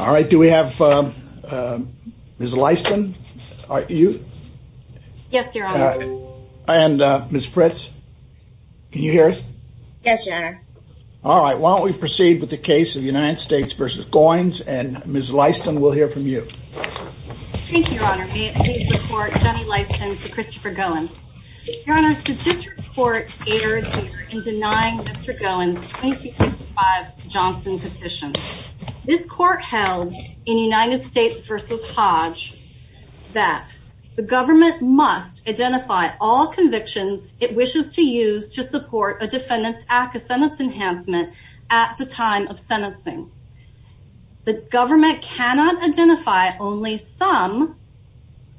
All right, do we have Ms. Lyston? Are you? Yes, Your Honor. And Ms. Fritz, can you hear us? Yes, Your Honor. All right, why don't we proceed with the case of United States v. Goins, and Ms. Lyston, we'll hear from you. Thank you, Your Honor. May it please the Court, Jenny Lyston v. Christopher Goins. Your Honor, so this report aired here in denying Mr. Goins' 1935 Johnson petition. This Court held in United States v. Hodge that the government must identify all convictions it wishes to use to support a defendant's ACCA sentence enhancement at the time of sentencing. The government cannot identify only some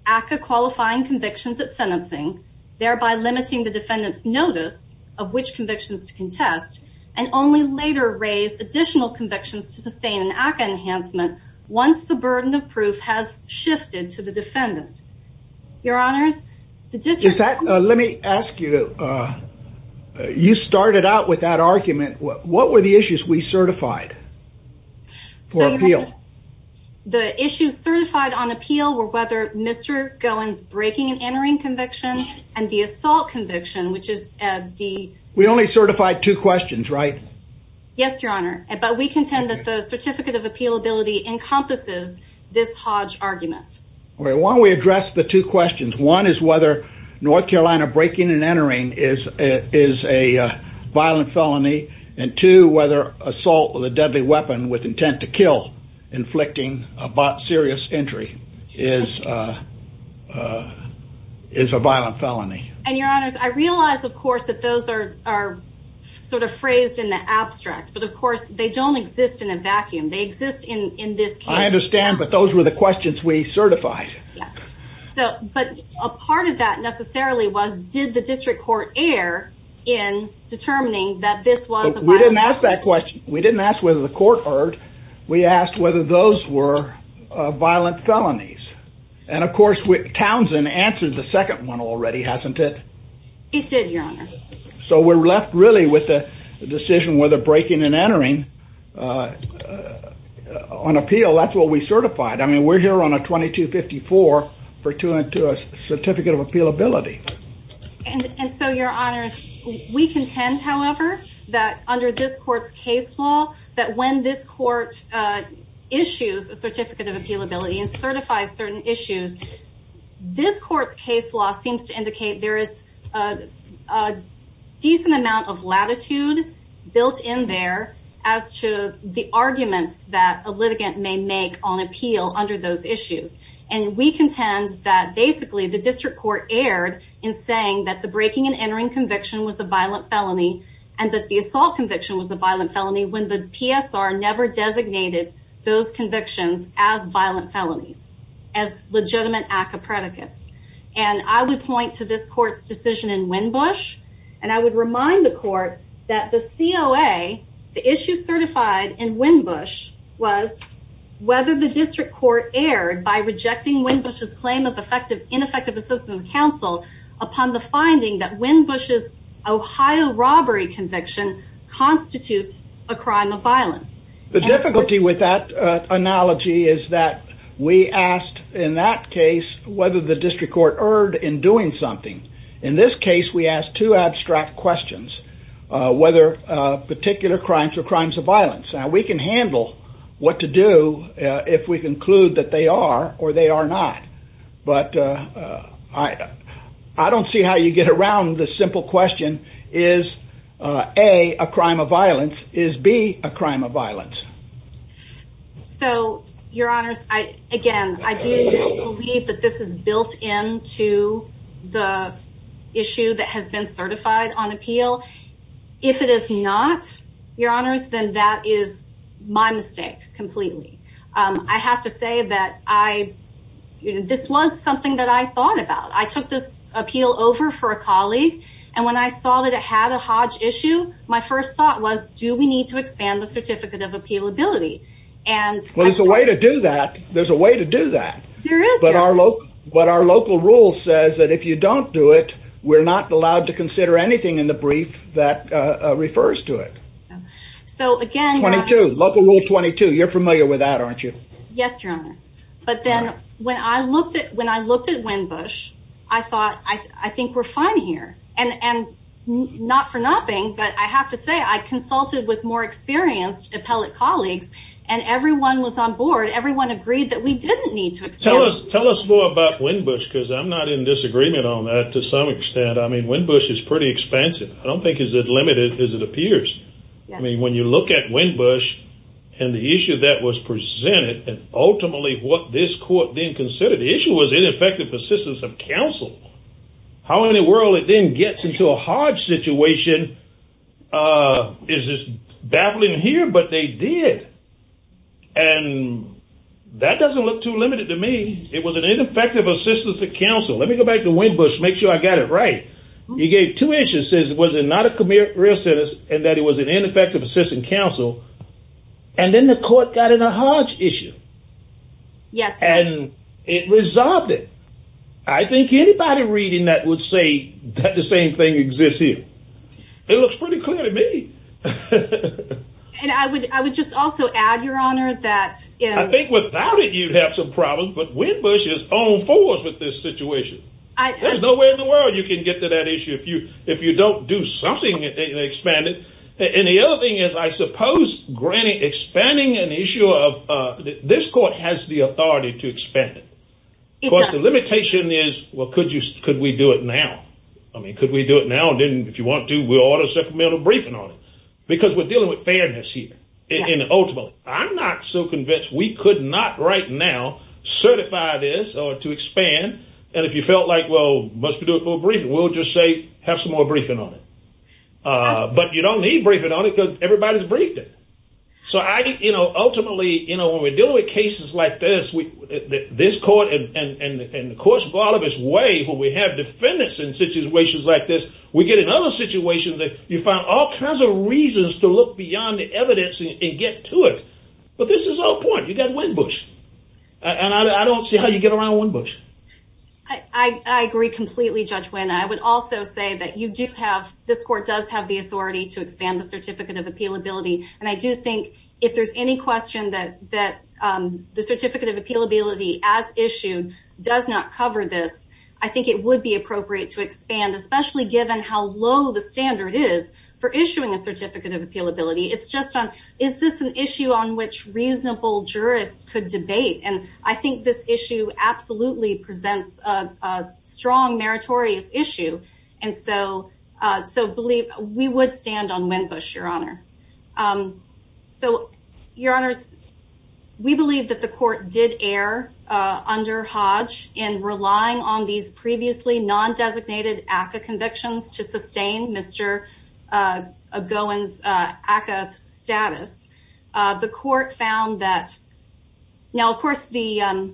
ACCA-qualifying convictions at sentencing, thereby limiting the defendant's notice of which convictions to contest, and only later raise additional convictions to sustain an ACCA enhancement once the burden of proof has shifted to the defendant. Your Honors, the district- Let me ask you, you started out with that argument. What were the issues we certified for appeal? The issues certified on appeal were whether Mr. Goins' breaking and entering conviction and the assault conviction, which is the- We only certified two questions, right? Yes, Your Honor, but we contend that the Certificate of Appealability encompasses this Hodge argument. Well, why don't we address the two questions? One is whether North Carolina breaking and entering is a violent felony, and two, whether assault with a deadly weapon with intent to kill, inflicting a serious injury, is a violent felony. And Your Honors, I realize, of course, that those are sort of phrased in the abstract, but, of course, they don't exist in a vacuum. They exist in this case. I understand, but those were the questions we certified. Yes, but a part of that, necessarily, was did the district court err in determining that this was a violent- We didn't ask that question. We didn't ask whether the court erred. We asked whether those were violent felonies. And, of course, Townsend answered the second one already, hasn't it? It did, Your Honor. So we're left, really, with the decision whether breaking and entering on appeal, that's what we certified. I mean, we're here on a 2254 pertinent to a Certificate of Appealability. And so, Your Honors, we contend, however, that under this court's case law, that when this court issues a Certificate of Appealability and certifies certain issues, this court's case law seems to indicate there is a decent amount of latitude built in there as to the arguments that a litigant may make on appeal under those issues. And we contend that, basically, the district court erred in saying that the breaking and entering conviction was a violent felony and that the assault conviction was a violent felony when the PSR never designated those convictions as violent felonies, as legitimate ACCA predicates. And I would point to this court's decision in Winbush, and I would remind the court that the COA, the issue certified in Winbush, was whether the district court erred by rejecting Winbush's claim of ineffective assistance of counsel upon the finding that Winbush's Ohio robbery conviction constitutes a crime of violence. The difficulty with that analogy is that we asked, in that case, whether the district court erred in doing something. In this case, we asked two abstract questions, whether particular crimes are crimes of violence. Now, we can handle what to do if we conclude that they are or they are not, but I don't see how you get around this simple question. Is A, a crime of violence? Is B, a crime of violence? So, your honors, again, I do believe that this is built into the issue that has been certified on appeal. If it is not, your honors, then that is my mistake completely. I have to say that this was something that I thought about. I took this appeal over for a colleague, and when I saw that it had a Hodge issue, my first thought was, do we need to expand the Certificate of Appealability? Well, there's a way to do that. There's a way to do that. There is. But our local rule says that if you don't do it, we're not allowed to consider anything in the brief that refers to it. So, again- 22, local rule 22. You're familiar with that, aren't you? Yes, your honor. But then, when I looked at Winbush, I thought, I think we're fine here. And not for nothing, but I have to say, I consulted with more experienced appellate colleagues, and everyone was on board. Everyone agreed that we didn't need to expand. Tell us more about Winbush, because I'm not in disagreement on that to some extent. I mean, Winbush is pretty expansive. I don't think it's as limited as it appears. I mean, when you look at Winbush, and the issue that was presented, and ultimately what this court then considered, the issue was ineffective assistance of counsel. How in the world it then gets into a Hodge situation is just baffling here, but they did. And that doesn't look too limited to me. It was an ineffective assistance of counsel. Let me go back to Winbush, make sure I got it right. You gave two issues, it says it was not a career sentence, and that it was an ineffective assistance of counsel. And then the court got in a Hodge issue. Yes, sir. And it resolved it. I think anybody reading that would say that the same thing exists here. It looks pretty clear to me. And I would just also add, Your Honor, that- I think without it, you'd have some problems, but Winbush is on fours with this situation. There's no way in the world you can get to that issue if you don't do something and expand it. And the other thing is, I suppose, granting, expanding an issue of, this court has the authority to expand it. Of course, the limitation is, well, could we do it now? I mean, could we do it now? And then if you want to, we'll order a supplemental briefing on it. Because we're dealing with fairness here. And ultimately, I'm not so convinced we could not right now certify this or to expand. And if you felt like, well, must we do a full briefing? We'll just say, have some more briefing on it. But you don't need briefing on it because everybody's briefed it. So I think, ultimately, when we're dealing with cases like this, this court and the courts of all of its way, where we have defendants in situations like this, we get in other situations that you find all kinds of reasons to look beyond the evidence and get to it. But this is our point. You got Winn-Busch. And I don't see how you get around Winn-Busch. I agree completely, Judge Winn. I would also say that you do have, this court does have the authority to expand the Certificate of Appealability. And I do think, if there's any question that the Certificate of Appealability, as issued, does not cover this, I think it would be appropriate to expand, especially given how low the standard is for issuing a Certificate of Appealability. It's just on, is this an issue on which reasonable jurists could debate? And I think this issue absolutely presents a strong meritorious issue. And so, we would stand on Winn-Busch, Your Honor. So, Your Honors, we believe that the court did err under Hodge in relying on these previously non-designated ACCA convictions to sustain Mr. Gowen's ACCA status. The court found that, now, of course, the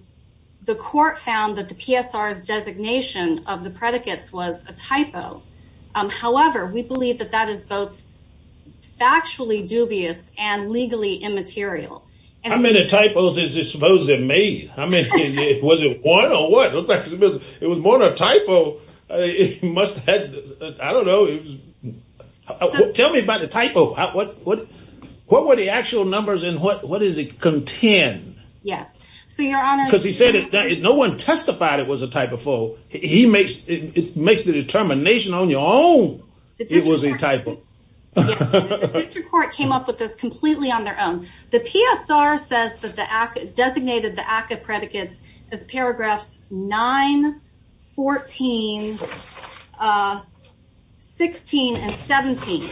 court found that the PSR's designation of the predicates was a typo. However, we believe that that is both factually dubious and legally immaterial. How many typos is this supposed to have made? I mean, was it one or what? It was more than a typo. It must have had, I don't know. Tell me about the typo. What were the actual numbers and what does it contain? Yes, so, Your Honor- Because he said that no one testified it was a typo. He makes the determination on your own it was a typo. Yes, Your Honor, the district court came up with this completely on their own. The PSR says that the ACCA designated the ACCA predicates as paragraphs nine, 14, 16, and 17.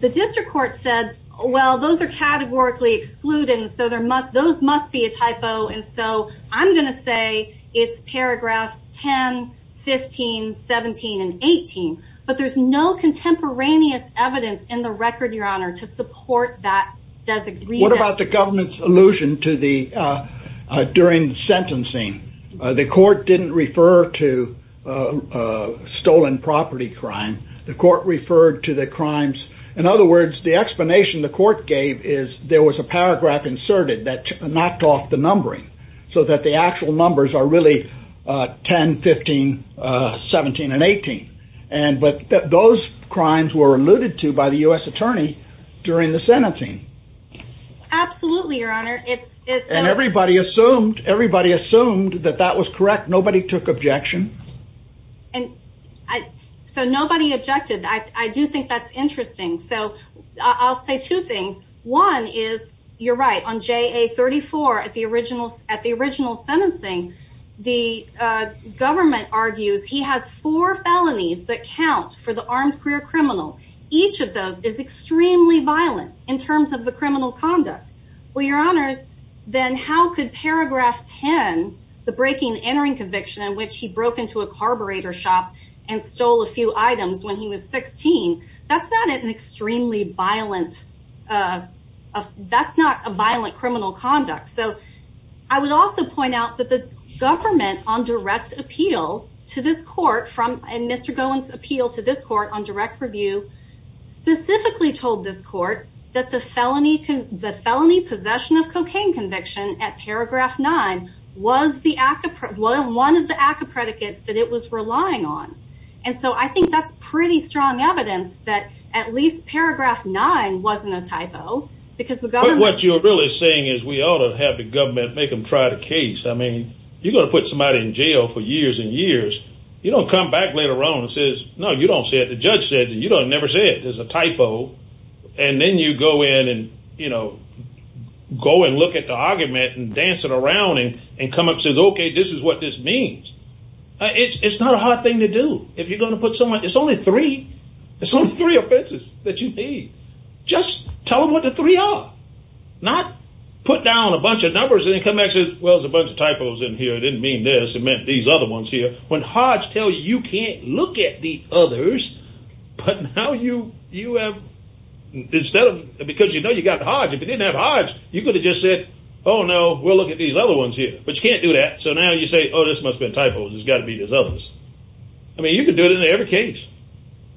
The district court said, well, those are categorically excluded and so those must be a typo and so I'm gonna say it's paragraphs 10, 15, 17, and 18. But there's no contemporaneous evidence in the record, Your Honor, to support that designation. What about the government's allusion to the, during sentencing? The court didn't refer to a stolen property crime. The court referred to the crimes. In other words, the explanation the court gave is there was a paragraph inserted that knocked off the numbering so that the actual numbers are really 10, 15, 17, and 18. And, but those crimes were alluded to by the U.S. attorney during the sentencing. Absolutely, Your Honor. And everybody assumed, everybody assumed that that was correct. Nobody took objection. So nobody objected. I do think that's interesting. So I'll say two things. One is, you're right, on JA 34 at the original sentencing, the government argues he has four felonies that count for the armed career criminal. Each of those is extremely violent in terms of the criminal conduct. Well, Your Honors, then how could paragraph 10, the breaking and entering conviction in which he broke into a carburetor shop and stole a few items when he was 16, that's not an extremely violent, that's not a violent criminal conduct. So I would also point out that the government on direct appeal to this court from, and Mr. Gowen's appeal to this court on direct review specifically told this court that the felony possession of cocaine conviction at paragraph nine was one of the ACCA predicates that it was relying on. And so I think that's pretty strong evidence that at least paragraph nine wasn't a typo because the government- But what you're really saying is we ought to have the government make him try the case. I mean, you're gonna put somebody in jail for years and years. You don't come back later on and says, no, you don't say it. The judge says it. You don't never say it. There's a typo. And then you go in and go and look at the argument and dance it around and come up says, okay, this is what this means. It's not a hard thing to do. If you're gonna put someone, it's only three. It's only three offenses that you need. Just tell them what the three are. Not put down a bunch of numbers and then come back and say, well, there's a bunch of typos in here. It didn't mean this. It meant these other ones here. When hearts tell you, you can't look at the others, but now you have, instead of, because you know you got the odds. If it didn't have odds, you could have just said, oh no, we'll look at these other ones here, but you can't do that. So now you say, oh, this must have been typos. It's gotta be these others. I mean, you could do it in every case.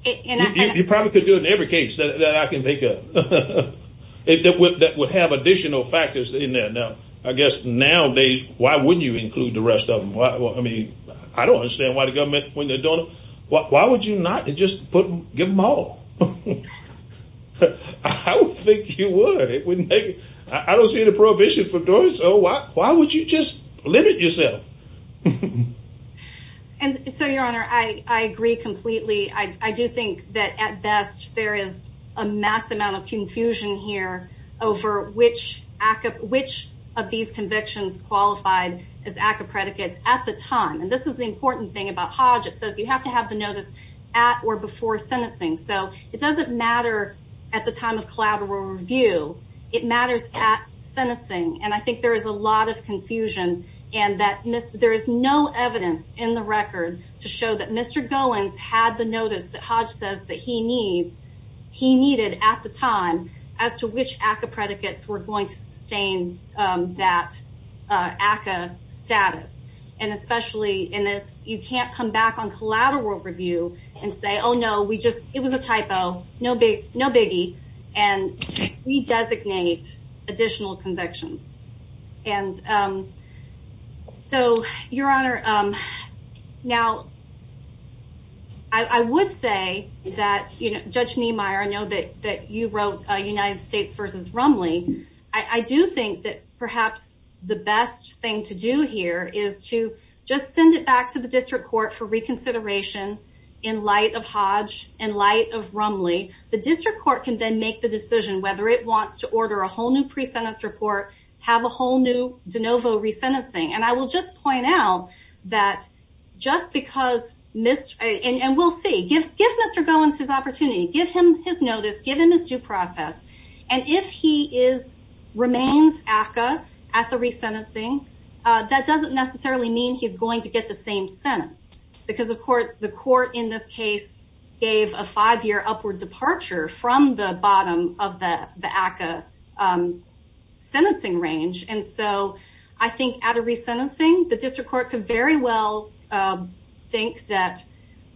You probably could do it in every case that I can think of. If that would have additional factors in there. Now, I guess nowadays, why wouldn't you include the rest of them? I mean, I don't understand why the government, when they're doing it, why would you not just give them all? I would think you would. I don't see the prohibition for doing so. Why would you just limit yourself? And so, your honor, I agree completely. I do think that at best, there is a mass amount of confusion here over which of these convictions qualified as ACCA predicates at the time. And this is the important thing about Hodge. It says you have to have the notice at or before sentencing. So it doesn't matter at the time of collateral review. It matters at sentencing. And I think there is a lot of confusion. And there is no evidence in the record to show that Mr. Goins had the notice that Hodge says that he needed at the time as to which ACCA predicates were going to sustain that ACCA status. And especially in this, you can't come back on collateral review and say, oh no, we just, it was a typo, no biggie. And we designate additional convictions. And so, your honor, now, I would say that Judge Niemeyer, I know that you wrote United States versus Rumley. I do think that perhaps the best thing to do here is to just send it back to the district court for reconsideration in light of Hodge, in light of Rumley. The district court can then make the decision whether it wants to order a whole new pre-sentence report, have a whole new de novo resentencing. And I will just point out that just because Mr., and we'll see, give Mr. Goins his opportunity, give him his notice, give him his due process. And if he remains ACCA at the resentencing, that doesn't necessarily mean he's going to get the same sentence. Because of course, the court in this case gave a five year upward departure from the bottom of the ACCA sentencing range. And so, I think at a resentencing, the district court could very well think that,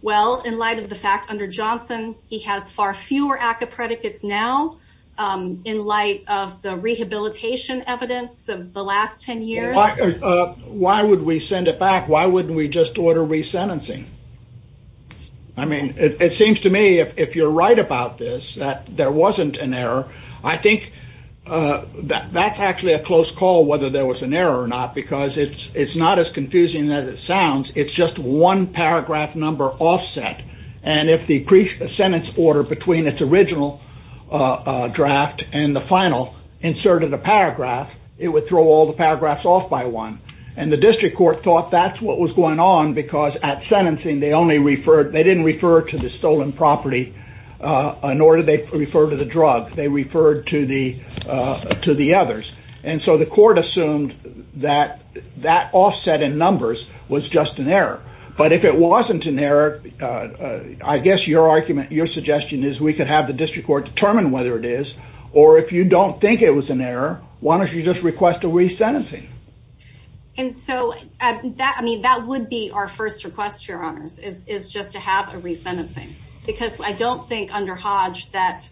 well, in light of the fact under Johnson, he has far fewer ACCA predicates now in light of the rehabilitation evidence of the last 10 years. Why would we send it back? Why wouldn't we just order resentencing? I mean, it seems to me, if you're right about this, that there wasn't an error. I think that's actually a close call whether there was an error or not, because it's not as confusing as it sounds. It's just one paragraph number offset. And if the pre-sentence order between its original draft and the final inserted a paragraph, it would throw all the paragraphs off by one. And the district court thought that's what was going on, because at sentencing, they didn't refer to the stolen property, nor did they refer to the drug. They referred to the others. And so, the court assumed that that offset in numbers was just an error. But if it wasn't an error, I guess your argument, your suggestion is we could have the district court determine whether it is, or if you don't think it was an error, why don't you just request a resentencing? And so, I mean, that would be our first request, Your Honors, is just to have a resentencing. Because I don't think under Hodge that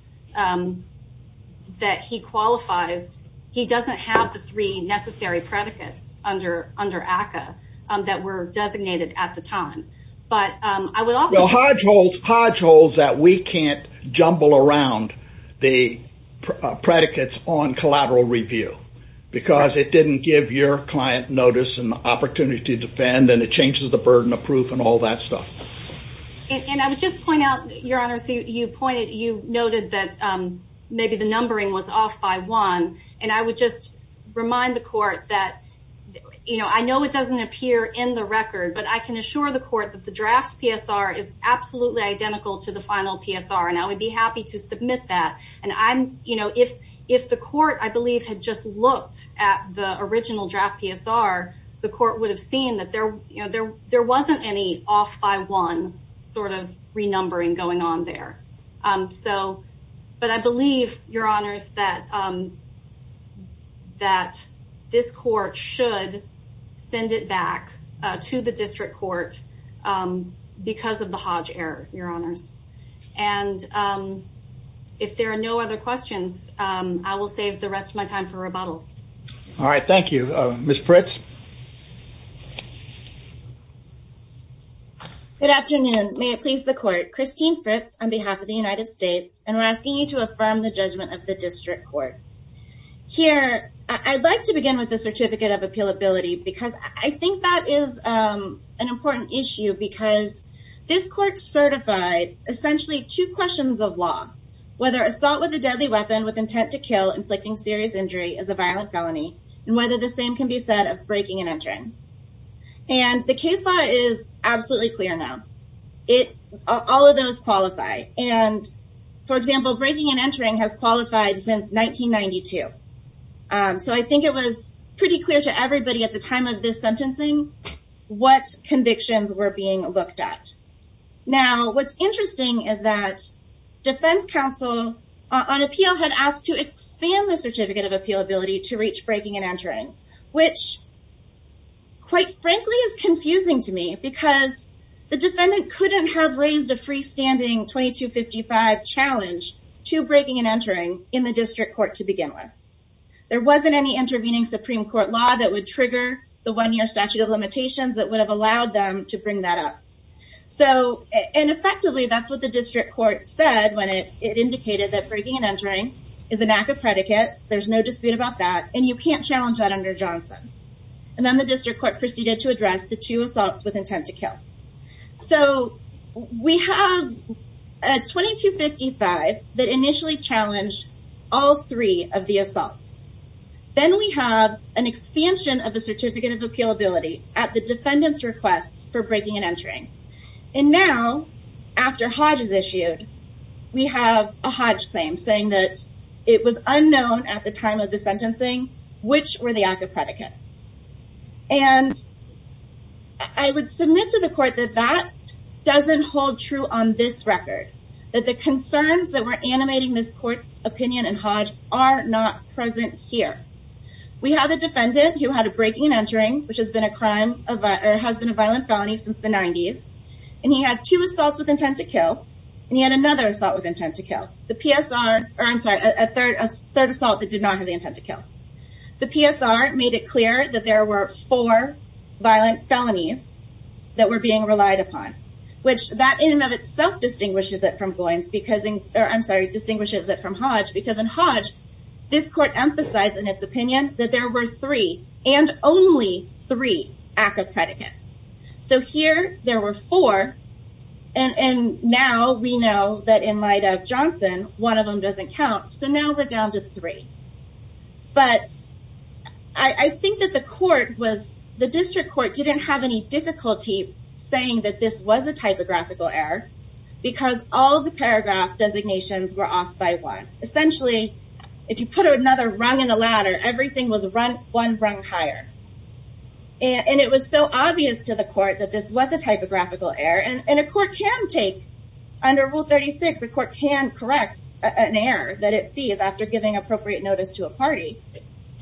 he qualifies, he doesn't have the three necessary predicates under ACCA that were designated at the time. But I would also- Well, Hodge holds that we can't jumble around the predicates on collateral review, because it didn't give your client notice and the opportunity to defend, and it changes the burden of proof and all that stuff. And I would just point out, Your Honor, so you pointed, you noted that maybe the numbering was off by one, and I would just remind the court that I know it doesn't appear in the record, but I can assure the court that the draft PSR is absolutely identical to the final PSR, and I would be happy to submit that. And I'm, you know, if the court, I believe, had just looked at the original draft PSR, the court would have seen that there, you know, there wasn't any off by one sort of renumbering going on there. So, but I believe, Your Honors, that this court should send it back to the district court because of the Hodge error, Your Honors. And if there are no other questions, I will save the rest of my time for rebuttal. All right, thank you. Ms. Fritz. Good afternoon. May it please the court. Christine Fritz on behalf of the United States, and we're asking you to affirm the judgment of the district court. Here, I'd like to begin with the certificate of appealability because I think that is an important issue because this court certified essentially two questions of law, whether assault with a deadly weapon with intent to kill inflicting serious injury is a violent felony, and whether the same can be said of breaking and entering. And the case law is absolutely clear now. It, all of those qualify. And for example, breaking and entering has qualified since 1992. So I think it was pretty clear to everybody at the time of this sentencing what convictions were being looked at. Now, what's interesting is that defense counsel on appeal had asked to expand the certificate of appealability to reach breaking and entering, which quite frankly is confusing to me because the defendant couldn't have raised a freestanding 2255 challenge to breaking and entering in the district court to begin with. There wasn't any intervening Supreme Court law that would trigger the one year statute of limitations that would have allowed them to bring that up. So, and effectively, that's what the district court said when it indicated that breaking and entering is a knack of predicate. There's no dispute about that. And you can't challenge that under Johnson. And then the district court proceeded to address the two assaults with intent to kill. So we have a 2255 that initially challenged all three of the assaults. Then we have an expansion of a certificate of appealability at the defendant's requests for breaking and entering. And now after Hodge is issued, we have a Hodge claim saying that it was unknown at the time of the sentencing, which were the active predicates. And I would submit to the court that that doesn't hold true on this record, that the concerns that were animating this court's opinion and Hodge are not present here. We have the defendant who had a breaking and entering, which has been a crime of, or has been a violent felony since the 90s. And he had two assaults with intent to kill. And he had another assault with intent to kill. The PSR, or I'm sorry, a third assault that did not have the intent to kill. The PSR made it clear that there were four violent felonies that were being relied upon, which that in and of itself distinguishes it from Boyne's because in, or I'm sorry, distinguishes it from Hodge, because in Hodge, this court emphasized in its opinion that there were three and only three active predicates. So here there were four. And now we know that in light of Johnson, one of them doesn't count. So now we're down to three. But I think that the court was, the district court didn't have any difficulty saying that this was a typographical error because all of the paragraph designations were off by one. Essentially, if you put another rung in the ladder, everything was one rung higher. And it was so obvious to the court that this was a typographical error. And a court can take, under Rule 36, a court can correct an error that it sees after giving appropriate notice to a party.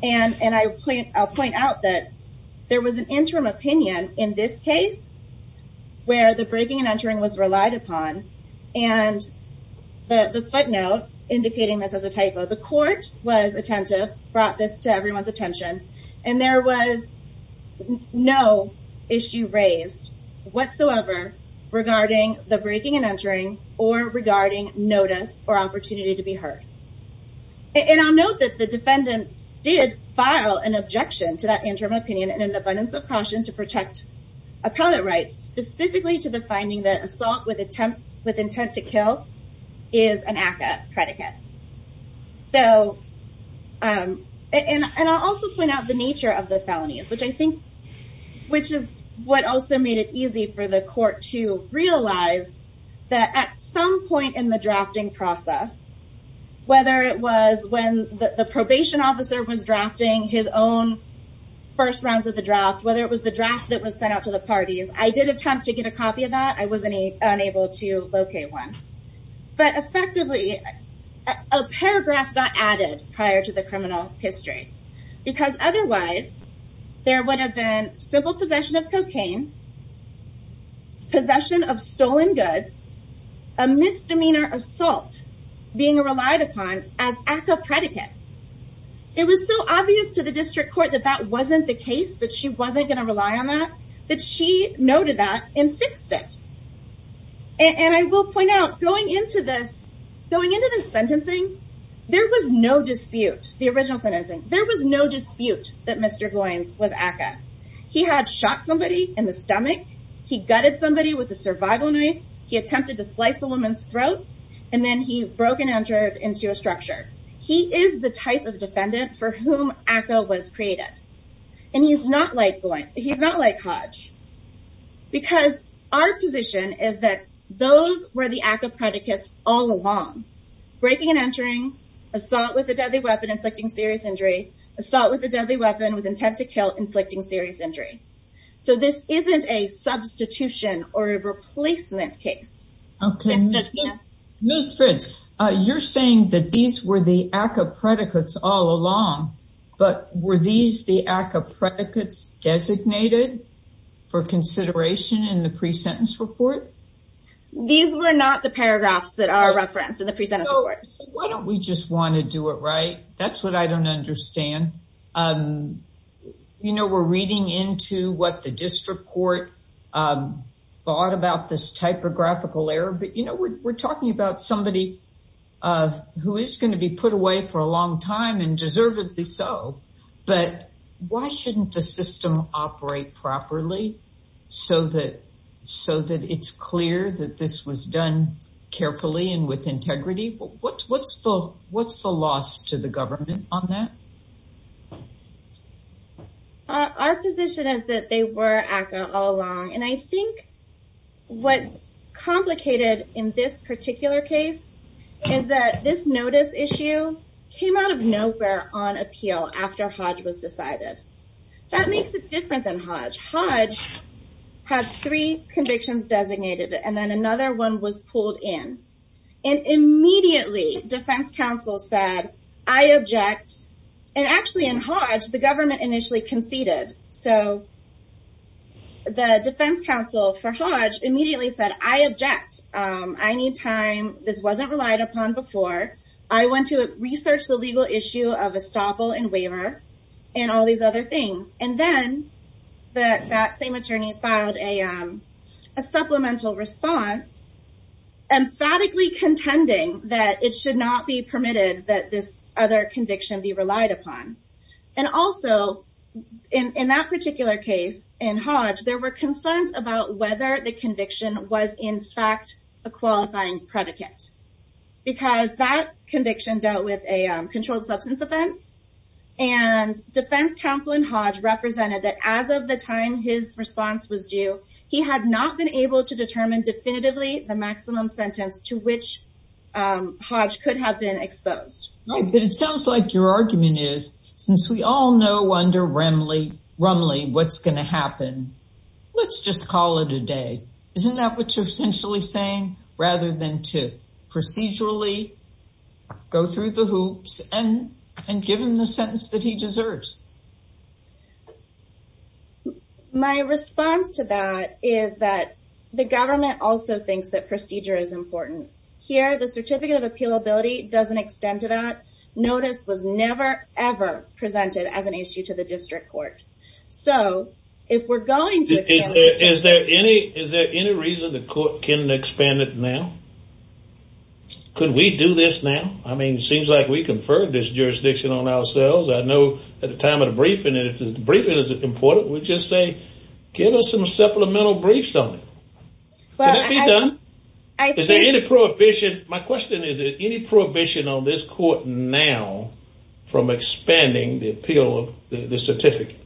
And I'll point out that there was an interim opinion in this case where the breaking and entering was relied upon. And the footnote indicating this as a typo, the court was attentive, brought this to everyone's attention, and there was no issue raised whatsoever regarding the breaking and entering or regarding notice or opportunity to be heard. And I'll note that the defendants did file an objection to that interim opinion in an abundance of caution to protect appellate rights, specifically to the finding that assault with intent to kill is an ACCA predicate. And I'll also point out the nature of the felonies, which I think, which is what also made it easy for the court to realize that at some point in the drafting process, whether it was when the probation officer was drafting his own first rounds of the draft, whether it was the draft that was sent out to the parties, I did attempt to get a copy of that. I was unable to locate one. But effectively, a paragraph got added prior to the criminal history, because otherwise there would have been simple possession of cocaine, possession of stolen goods, a misdemeanor assault being relied upon as ACCA predicates. It was so obvious to the district court that that wasn't the case, that she wasn't gonna rely on that, that she noted that and fixed it. And I will point out going into this, going into this sentencing, there was no dispute, the original sentencing, there was no dispute that Mr. Goins was ACCA. He had shot somebody in the stomach. He gutted somebody with a survival knife. He attempted to slice a woman's throat. And then he broke and entered into a structure. He is the type of defendant for whom ACCA was created. And he's not like Goins, he's not like Hodge. Because our position is that those were the ACCA predicates all along. Breaking and entering, assault with a deadly weapon inflicting serious injury, assault with a deadly weapon with intent to kill inflicting serious injury. So this isn't a substitution or a replacement case. Ms. Fitz, you're saying that these were the ACCA predicates all along, but were these the ACCA predicates designated for consideration in the pre-sentence report? These were not the paragraphs that are referenced in the pre-sentence report. So why don't we just want to do it right? That's what I don't understand. You know, we're reading into what the district court thought about this typographical error, but you know, we're talking about somebody who is going to be put away for a long time and deservedly so. But why shouldn't the system operate properly so that it's clear that this was done carefully and with integrity? What's the loss to the government on that? Our position is that they were ACCA all along. And I think what's complicated in this particular case is that this notice issue came out of nowhere on appeal after Hodge was decided. That makes it different than Hodge. Hodge had three convictions designated and then another one was pulled in. And immediately defense counsel said, I object. And actually in Hodge, the government initially conceded. So the defense counsel for Hodge immediately said, I object. I need time. This wasn't relied upon before. I want to research the legal issue of estoppel and waiver and all these other things. And then that same attorney filed a supplemental response, emphatically contending that it should not be permitted that this other conviction be relied upon. And also in that particular case in Hodge, there were concerns about whether the conviction was in fact a qualifying predicate because that conviction dealt with a controlled substance offense. And defense counsel in Hodge represented that as of the time his response was due, he had not been able to determine definitively the maximum sentence to which Hodge could have been exposed. Right, but it sounds like your argument is since we all know under Rumley what's gonna happen, let's just call it a day. Isn't that what you're essentially saying rather than to procedurally go through the hoops and give him the sentence that he deserves? My response to that is that the government also thinks that procedure is important. Here, the certificate of appealability doesn't extend to that. Notice was never, ever presented as an issue to the district court. So if we're going to extend it- Is there any reason the court can expand it now? Could we do this now? I mean, it seems like we conferred this jurisdiction on ourselves. I know at the time of the briefing, and if the briefing is important, we'll just say, give us some supplemental briefs on it. Can that be done? Is there any prohibition? My question is, is there any prohibition on this court now from expanding the appeal of the certificate?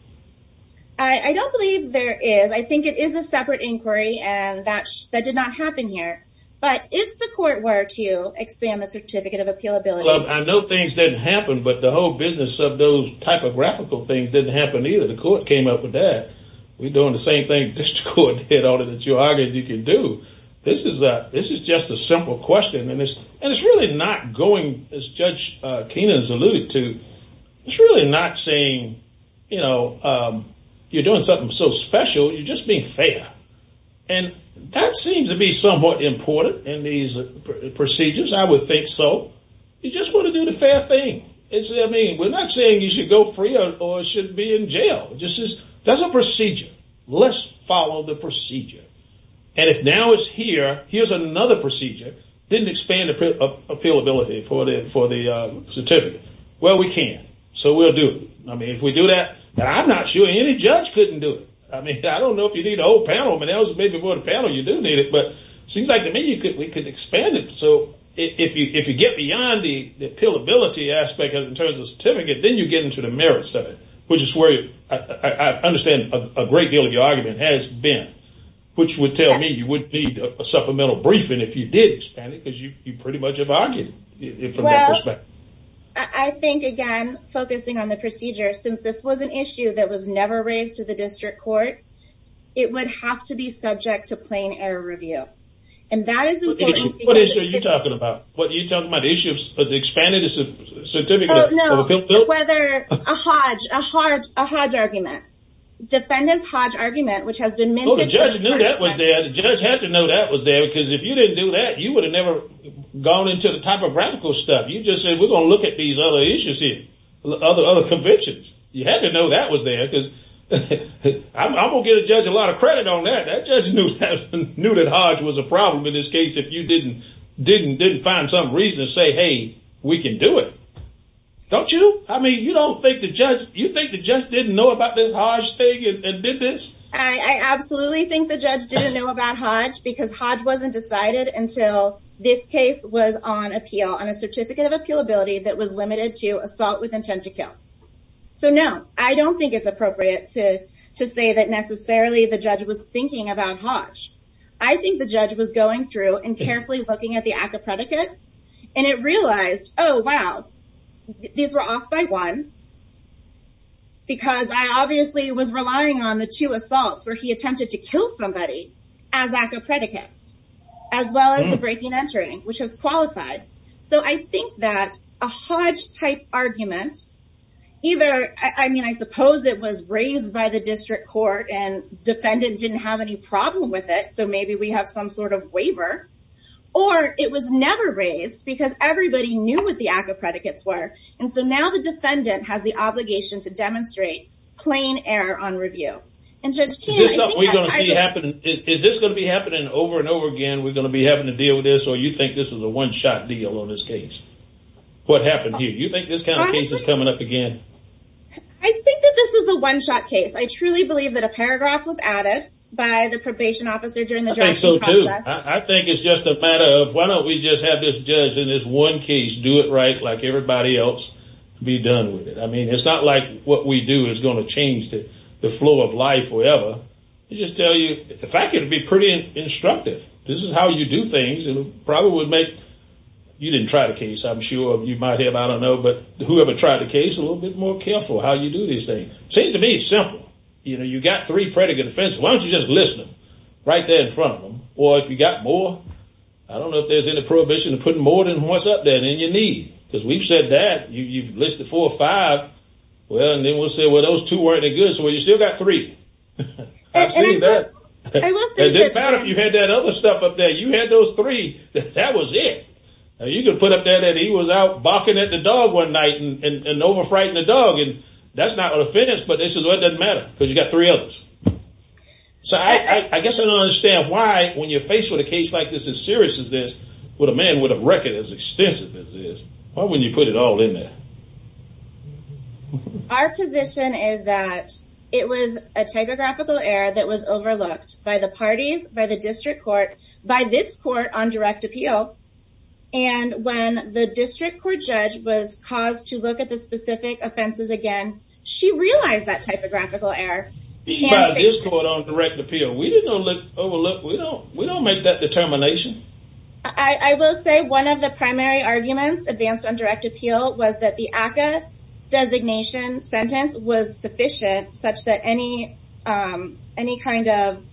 I don't believe there is. I think it is a separate inquiry, and that did not happen here. But if the court were to expand the certificate of appealability- I know things didn't happen, but the whole business of those typographical things didn't happen either. The court came up with that. We're doing the same thing district court did, all that you argued you could do. This is just a simple question, and it's really not going, as Judge Keenan has alluded to, it's really not saying, you know, you're doing something so special, you're just being fair. And that seems to be somewhat important in these procedures, I would think so. You just want to do the fair thing. It's, I mean, we're not saying you should go free or should be in jail. This is, that's a procedure. Let's follow the procedure. And if now it's here, here's another procedure, didn't expand appealability for the certificate. Well, we can, so we'll do it. I mean, if we do that, I'm not sure any judge couldn't do it. I mean, I don't know if you need a whole panel, but there was maybe more than a panel, you do need it. But it seems like to me, we could expand it. So if you get beyond the appealability aspect in terms of the certificate, then you get into the merits of it, which is where I understand a great deal of your argument has been, which would tell me you would need a supplemental briefing if you did expand it, because you pretty much have argued it from that perspective. I think again, focusing on the procedure, since this was an issue that was never raised to the district court, it would have to be subject to plain error review. And that is important- What issue are you talking about? What are you talking about? The issue of the expanded certificate? No, whether a Hodge, a Hodge argument. Defendant's Hodge argument, which has been minted- Oh, the judge knew that was there. The judge had to know that was there, because if you didn't do that, you would have never gone into the topographical stuff. You just said, we're going to look at these other issues here, other convictions. You had to know that was there, because I'm going to get a judge a lot of credit on that. That judge knew that Hodge was a problem in this case, if you didn't find some reason to say, hey, we can do it. Don't you? I mean, you think the judge didn't know about this Hodge thing and did this? I absolutely think the judge didn't know about Hodge, because Hodge wasn't decided until this case was on appeal, on a certificate of appealability that was limited to assault with intent to kill. So no, I don't think it's appropriate to say that necessarily the judge was thinking about Hodge. I think the judge was going through and carefully looking at the ACCA predicates, and it realized, oh, wow, these were off by one, because I obviously was relying on the two assaults where he attempted to kill somebody as ACCA predicates, as well as the breaking entering, which has qualified. So I think that a Hodge-type argument, either, I mean, I suppose it was raised by the district court and defendant didn't have any problem with it, so maybe we have some sort of waiver, or it was never raised, because everybody knew what the ACCA predicates were. And so now the defendant has the obligation to demonstrate plain error on review. And Judge Keen, I think that's- Is this something we're gonna see happen, is this gonna be happening over and over again, we're gonna be having to deal with this, or you think this is a one-shot deal on this case? What happened here? You think this kind of case is coming up again? I think that this was a one-shot case. I truly believe that a paragraph was added by the probation officer during the drafting process. I think so, too. I think it's just a matter of, why don't we just have this judge in this one case do it right, like everybody else, be done with it? I mean, it's not like what we do is gonna change the flow of life forever. They just tell you, in fact, it'd be pretty instructive. This is how you do things, and it probably would make, you didn't try the case, I'm sure, you might have, I don't know, but whoever tried the case, a little bit more careful how you do these things. Seems to me simple. You got three predicate offenses, why don't you just list them right there in front of them? Or if you got more, I don't know if there's any prohibition to putting more than what's up there than you need, because we've said that, you've listed four or five, well, and then we'll say, well, those two weren't any good, so well, you still got three. I've seen that. It doesn't matter if you had that other stuff up there, you had those three, that was it. You can put up there that he was out barking at the dog one night and over-frightened the dog, and that's not an offense, but this is what doesn't matter, because you got three others. So I guess I don't understand why, when you're faced with a case like this, as serious as this, with a man with a record as extensive as this, why wouldn't you put it all in there? Our position is that it was a typographical error that was overlooked by the parties, by the district court, by this court on direct appeal, and when the district court judge was caused to look at the specific offenses again, she realized that typographical error. By this court on direct appeal. We didn't overlook, we don't make that determination. I will say one of the primary arguments advanced on direct appeal was that the ACCA designation sentence was sufficient such that any kind of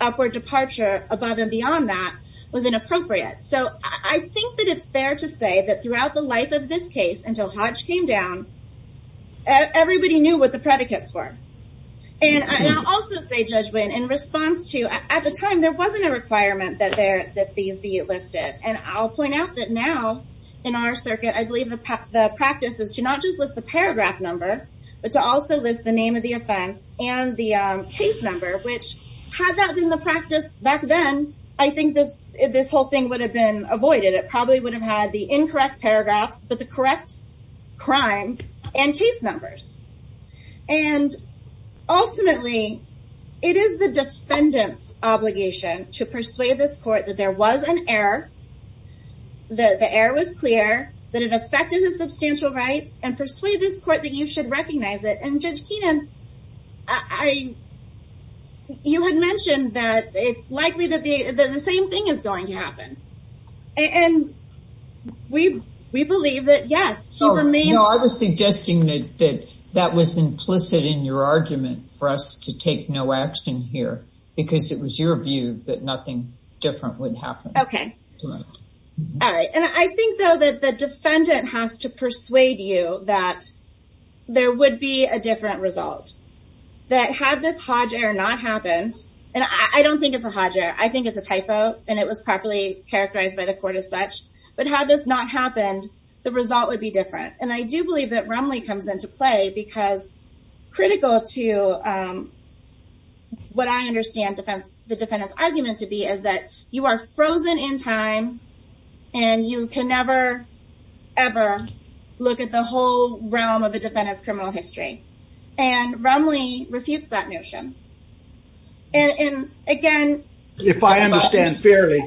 upward departure above and beyond that was inappropriate. So I think that it's fair to say that throughout the life of this case, until Hodge came down, everybody knew what the predicates were. And I'll also say, Judge Wayne, in response to, at the time, there wasn't a requirement that these be listed, and I'll point out that now, in our circuit, I believe the practice is to not just list the paragraph number, but to also list the name of the offense and the case number, which had that been the practice back then, I think this whole thing would have been avoided. It probably would have had the incorrect paragraphs, but the correct crimes and case numbers. And ultimately, it is the defendant's obligation to persuade this court that there was an error, that the error was clear, that it affected his substantial rights, and persuade this court that you should recognize it. And Judge Keenan, you had mentioned that it's likely that the same thing is going to happen. And we believe that, yes, he remains- No, I was suggesting that that was implicit in your argument for us to take no action here, because it was your view that nothing different would happen. Okay, all right. And I think, though, that the defendant has to persuade you that there would be a different result, that had this Hodge error not happened, and I don't think it's a Hodge error, I think it's a typo, and it was properly characterized by the court as such, but had this not happened, the result would be different. And I do believe that Rumley comes into play, because critical to what I understand the defendant's argument to be is that you are frozen in time, and you can never, ever look at the whole realm of a defendant's criminal history. And Rumley refutes that notion. And again- If I understand fairly,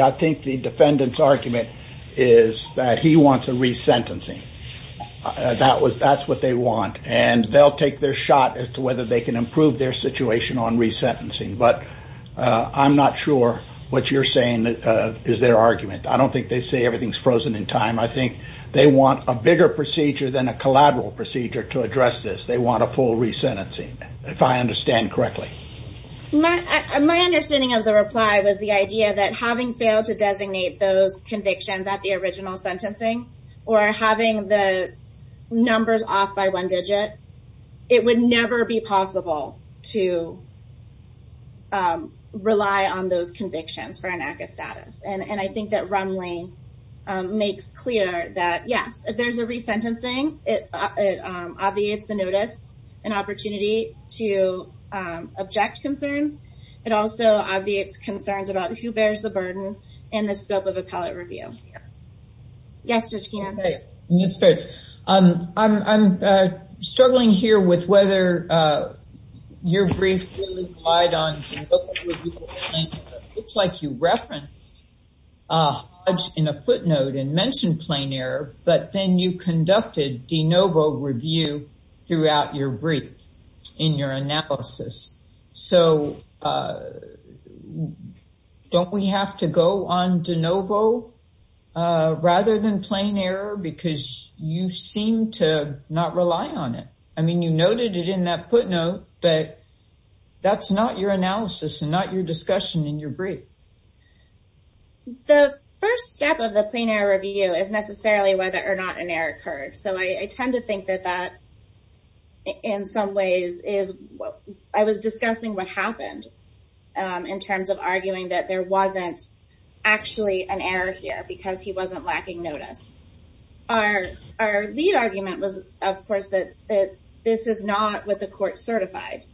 I think the defendant's argument is that he wants a resentencing. That's what they want. And they'll take their shot as to whether they can improve their situation on resentencing. But I'm not sure what you're saying is their argument. I don't think they say everything's frozen in time. I think they want a bigger procedure than a collateral procedure to address this. They want a full resentencing, if I understand correctly. My understanding of the reply was the idea that having failed to designate those convictions at the original sentencing, or having the numbers off by one digit, it would never be possible to rely on those convictions for an act of status. And I think that Rumley makes clear that, yes, if there's a resentencing, it obviates the notice and opportunity to object concerns. It also obviates concerns about who bears the burden in the scope of appellate review. Yes, Judge Keenan. Okay, Ms. Fitts, I'm struggling here with whether your brief relied on de novo review. It's like you referenced Hodge in a footnote and mentioned plain error, but then you conducted de novo review throughout your brief in your analysis. So don't we have to go on de novo rather than plain error because you seem to not rely on it? I mean, you noted it in that footnote, but that's not your analysis and not your discussion in your brief. The first step of the plain error review is necessarily whether or not an error occurred. So I tend to think that that in some ways is what I was discussing what happened in terms of arguing that there wasn't actually an error here because he wasn't lacking notice. Our lead argument was, of course, that this is not what the court certified,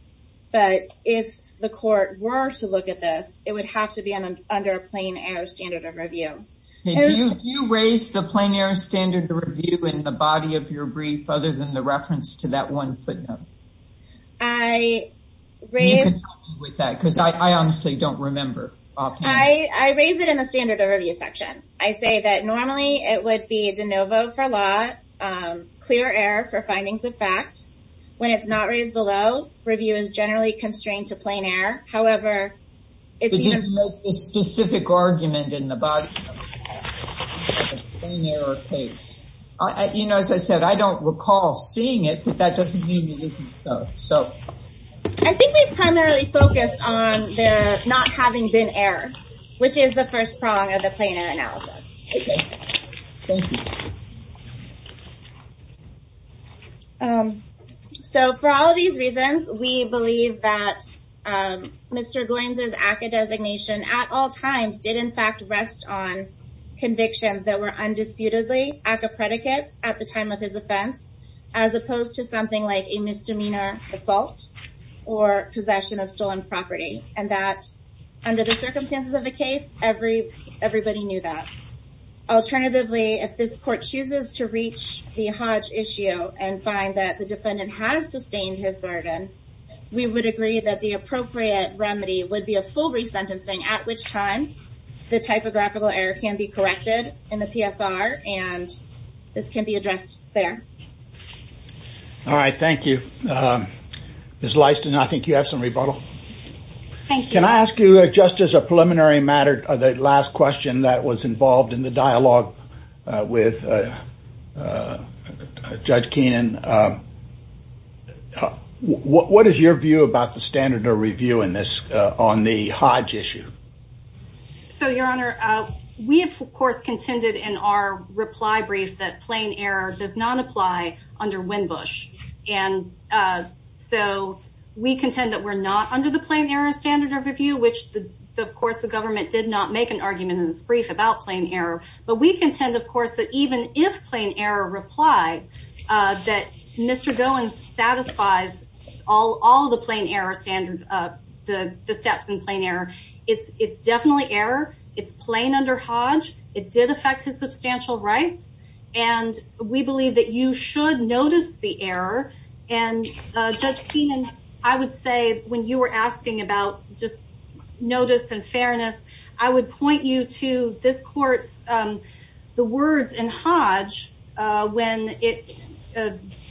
but if the court were to look at this, it would have to be under a plain error standard of review. Did you raise the plain error standard of review in the body of your brief other than the reference to that one footnote? I raised- You can help me with that because I honestly don't remember. I raised it in the standard of review section. I say that normally it would be de novo for law, clear error for findings of fact. When it's not raised below, review is generally constrained to plain error. However, it's- But you didn't make this specific argument in the body of your case. You know, as I said, I don't recall seeing it, but that doesn't mean it isn't so. I think we primarily focused on not having been error, which is the first prong of the plain error analysis. Okay, thank you. So for all of these reasons, we believe that Mr. Goins' ACCA designation at all times did in fact rest on convictions that were undisputedly ACCA predicates at the time of his offense as opposed to something like a misdemeanor assault or possession of stolen property, and that under the circumstances of the case, everybody knew that. Alternatively, if this court chooses to reach the Hodge issue and find that the defendant has sustained his burden, we would agree that the appropriate remedy would be a full resentencing, at which time the typographical error can be corrected in the PSR, and this can be addressed there. All right, thank you. Ms. Leiston, I think you have some rebuttal. Can I ask you, just as a preliminary matter, the last question that was involved in the dialogue with Judge Keenan, what is your view about the standard of review in this on the Hodge issue? So, Your Honor, we of course contended in our reply brief that plain error does not apply under Winbush, and so we contend that we're not under the plain error standard of review, which, of course, the government did not make an argument in this brief about plain error, but we contend, of course, that even if plain error replied, that Mr. Goins satisfies all the steps in plain error. It's definitely error. It's plain under Hodge. It did affect his substantial rights, and we believe that you should notice the error, and Judge Keenan, I would say, when you were asking about just notice and fairness, I would point you to this court's, the words in Hodge, when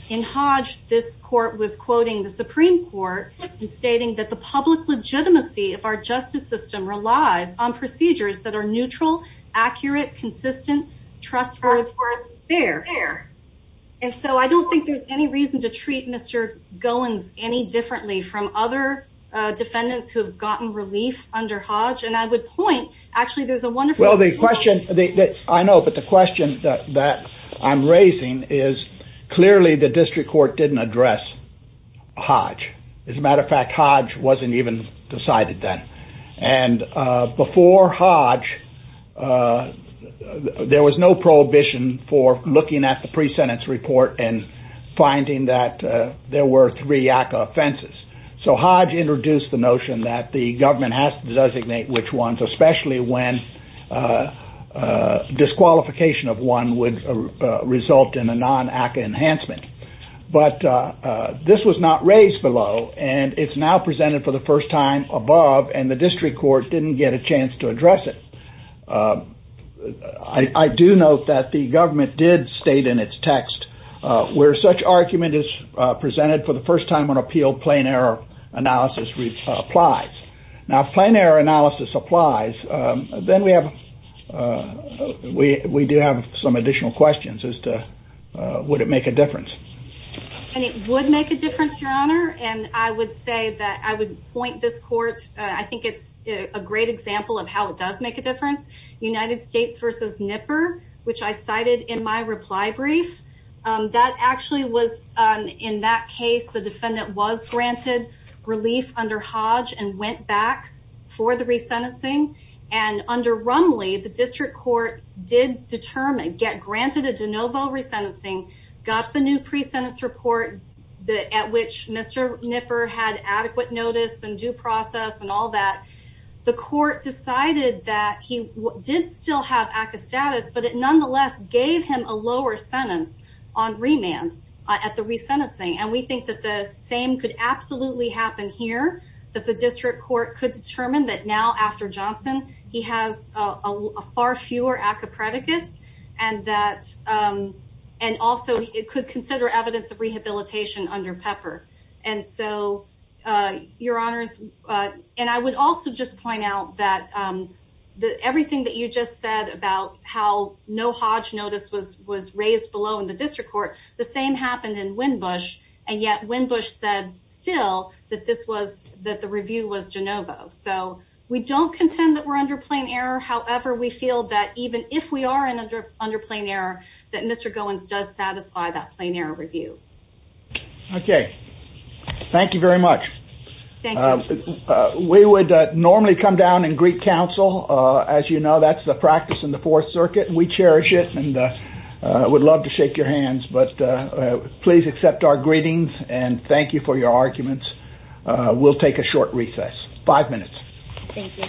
in Hodge, this court was quoting the Supreme Court and stating that the public legitimacy of our justice system relies on procedures that are neutral, accurate, consistent, trustworthy, fair, and so I don't think there's any reason to treat Mr. Goins any differently from other defendants who have gotten relief under Hodge, and I would point, actually, there's a wonderful- Well, the question, I know, but the question that I'm raising is clearly the district court didn't address Hodge. As a matter of fact, Hodge wasn't even decided then, and before Hodge, there was no prohibition for looking at the pre-sentence report and finding that there were three ACCA offenses, so Hodge introduced the notion that the government has to designate which ones, especially when disqualification of one would result in a non-ACCA enhancement, but this was not raised below, and it's now presented for the first time above, and the district court didn't get a chance to address it. I do note that the government did state in its text where such argument is presented for the first time on appeal, plain error analysis applies. Now, if plain error analysis applies, then we do have some additional questions as to would it make a difference. And it would make a difference, Your Honor, and I would say that I would point this court, I think it's a great example of how it does make a difference, United States v. Nipper, which I cited in my reply brief, that actually was, in that case, the defendant was granted relief under Hodge and went back for the resentencing, and under Rumley, the district court did determine, get granted a de novo resentencing, got the new pre-sentence report at which Mr. Nipper had adequate notice and due process and all that. The court decided that he did still have ACA status, but it nonetheless gave him a lower sentence on remand at the resentencing, and we think that the same could absolutely happen here, that the district court could determine that now after Johnson, he has a far fewer ACA predicates, and that, and also it could consider evidence of rehabilitation under Pepper. And so, Your Honors, and I would also just point out that everything that you just said about how no Hodge notice was raised below in the district court, the same happened in Winbush, and yet Winbush said still that this was, that the review was de novo. So we don't contend that we're under plain error, however, we feel that even if we are under plain error, that Mr. Goins does satisfy that plain error review. Okay, thank you very much. Thank you. We would normally come down and greet counsel. As you know, that's the practice in the Fourth Circuit, and we cherish it and would love to shake your hands, but please accept our greetings and thank you for your arguments. We'll take a short recess, five minutes. Thank you.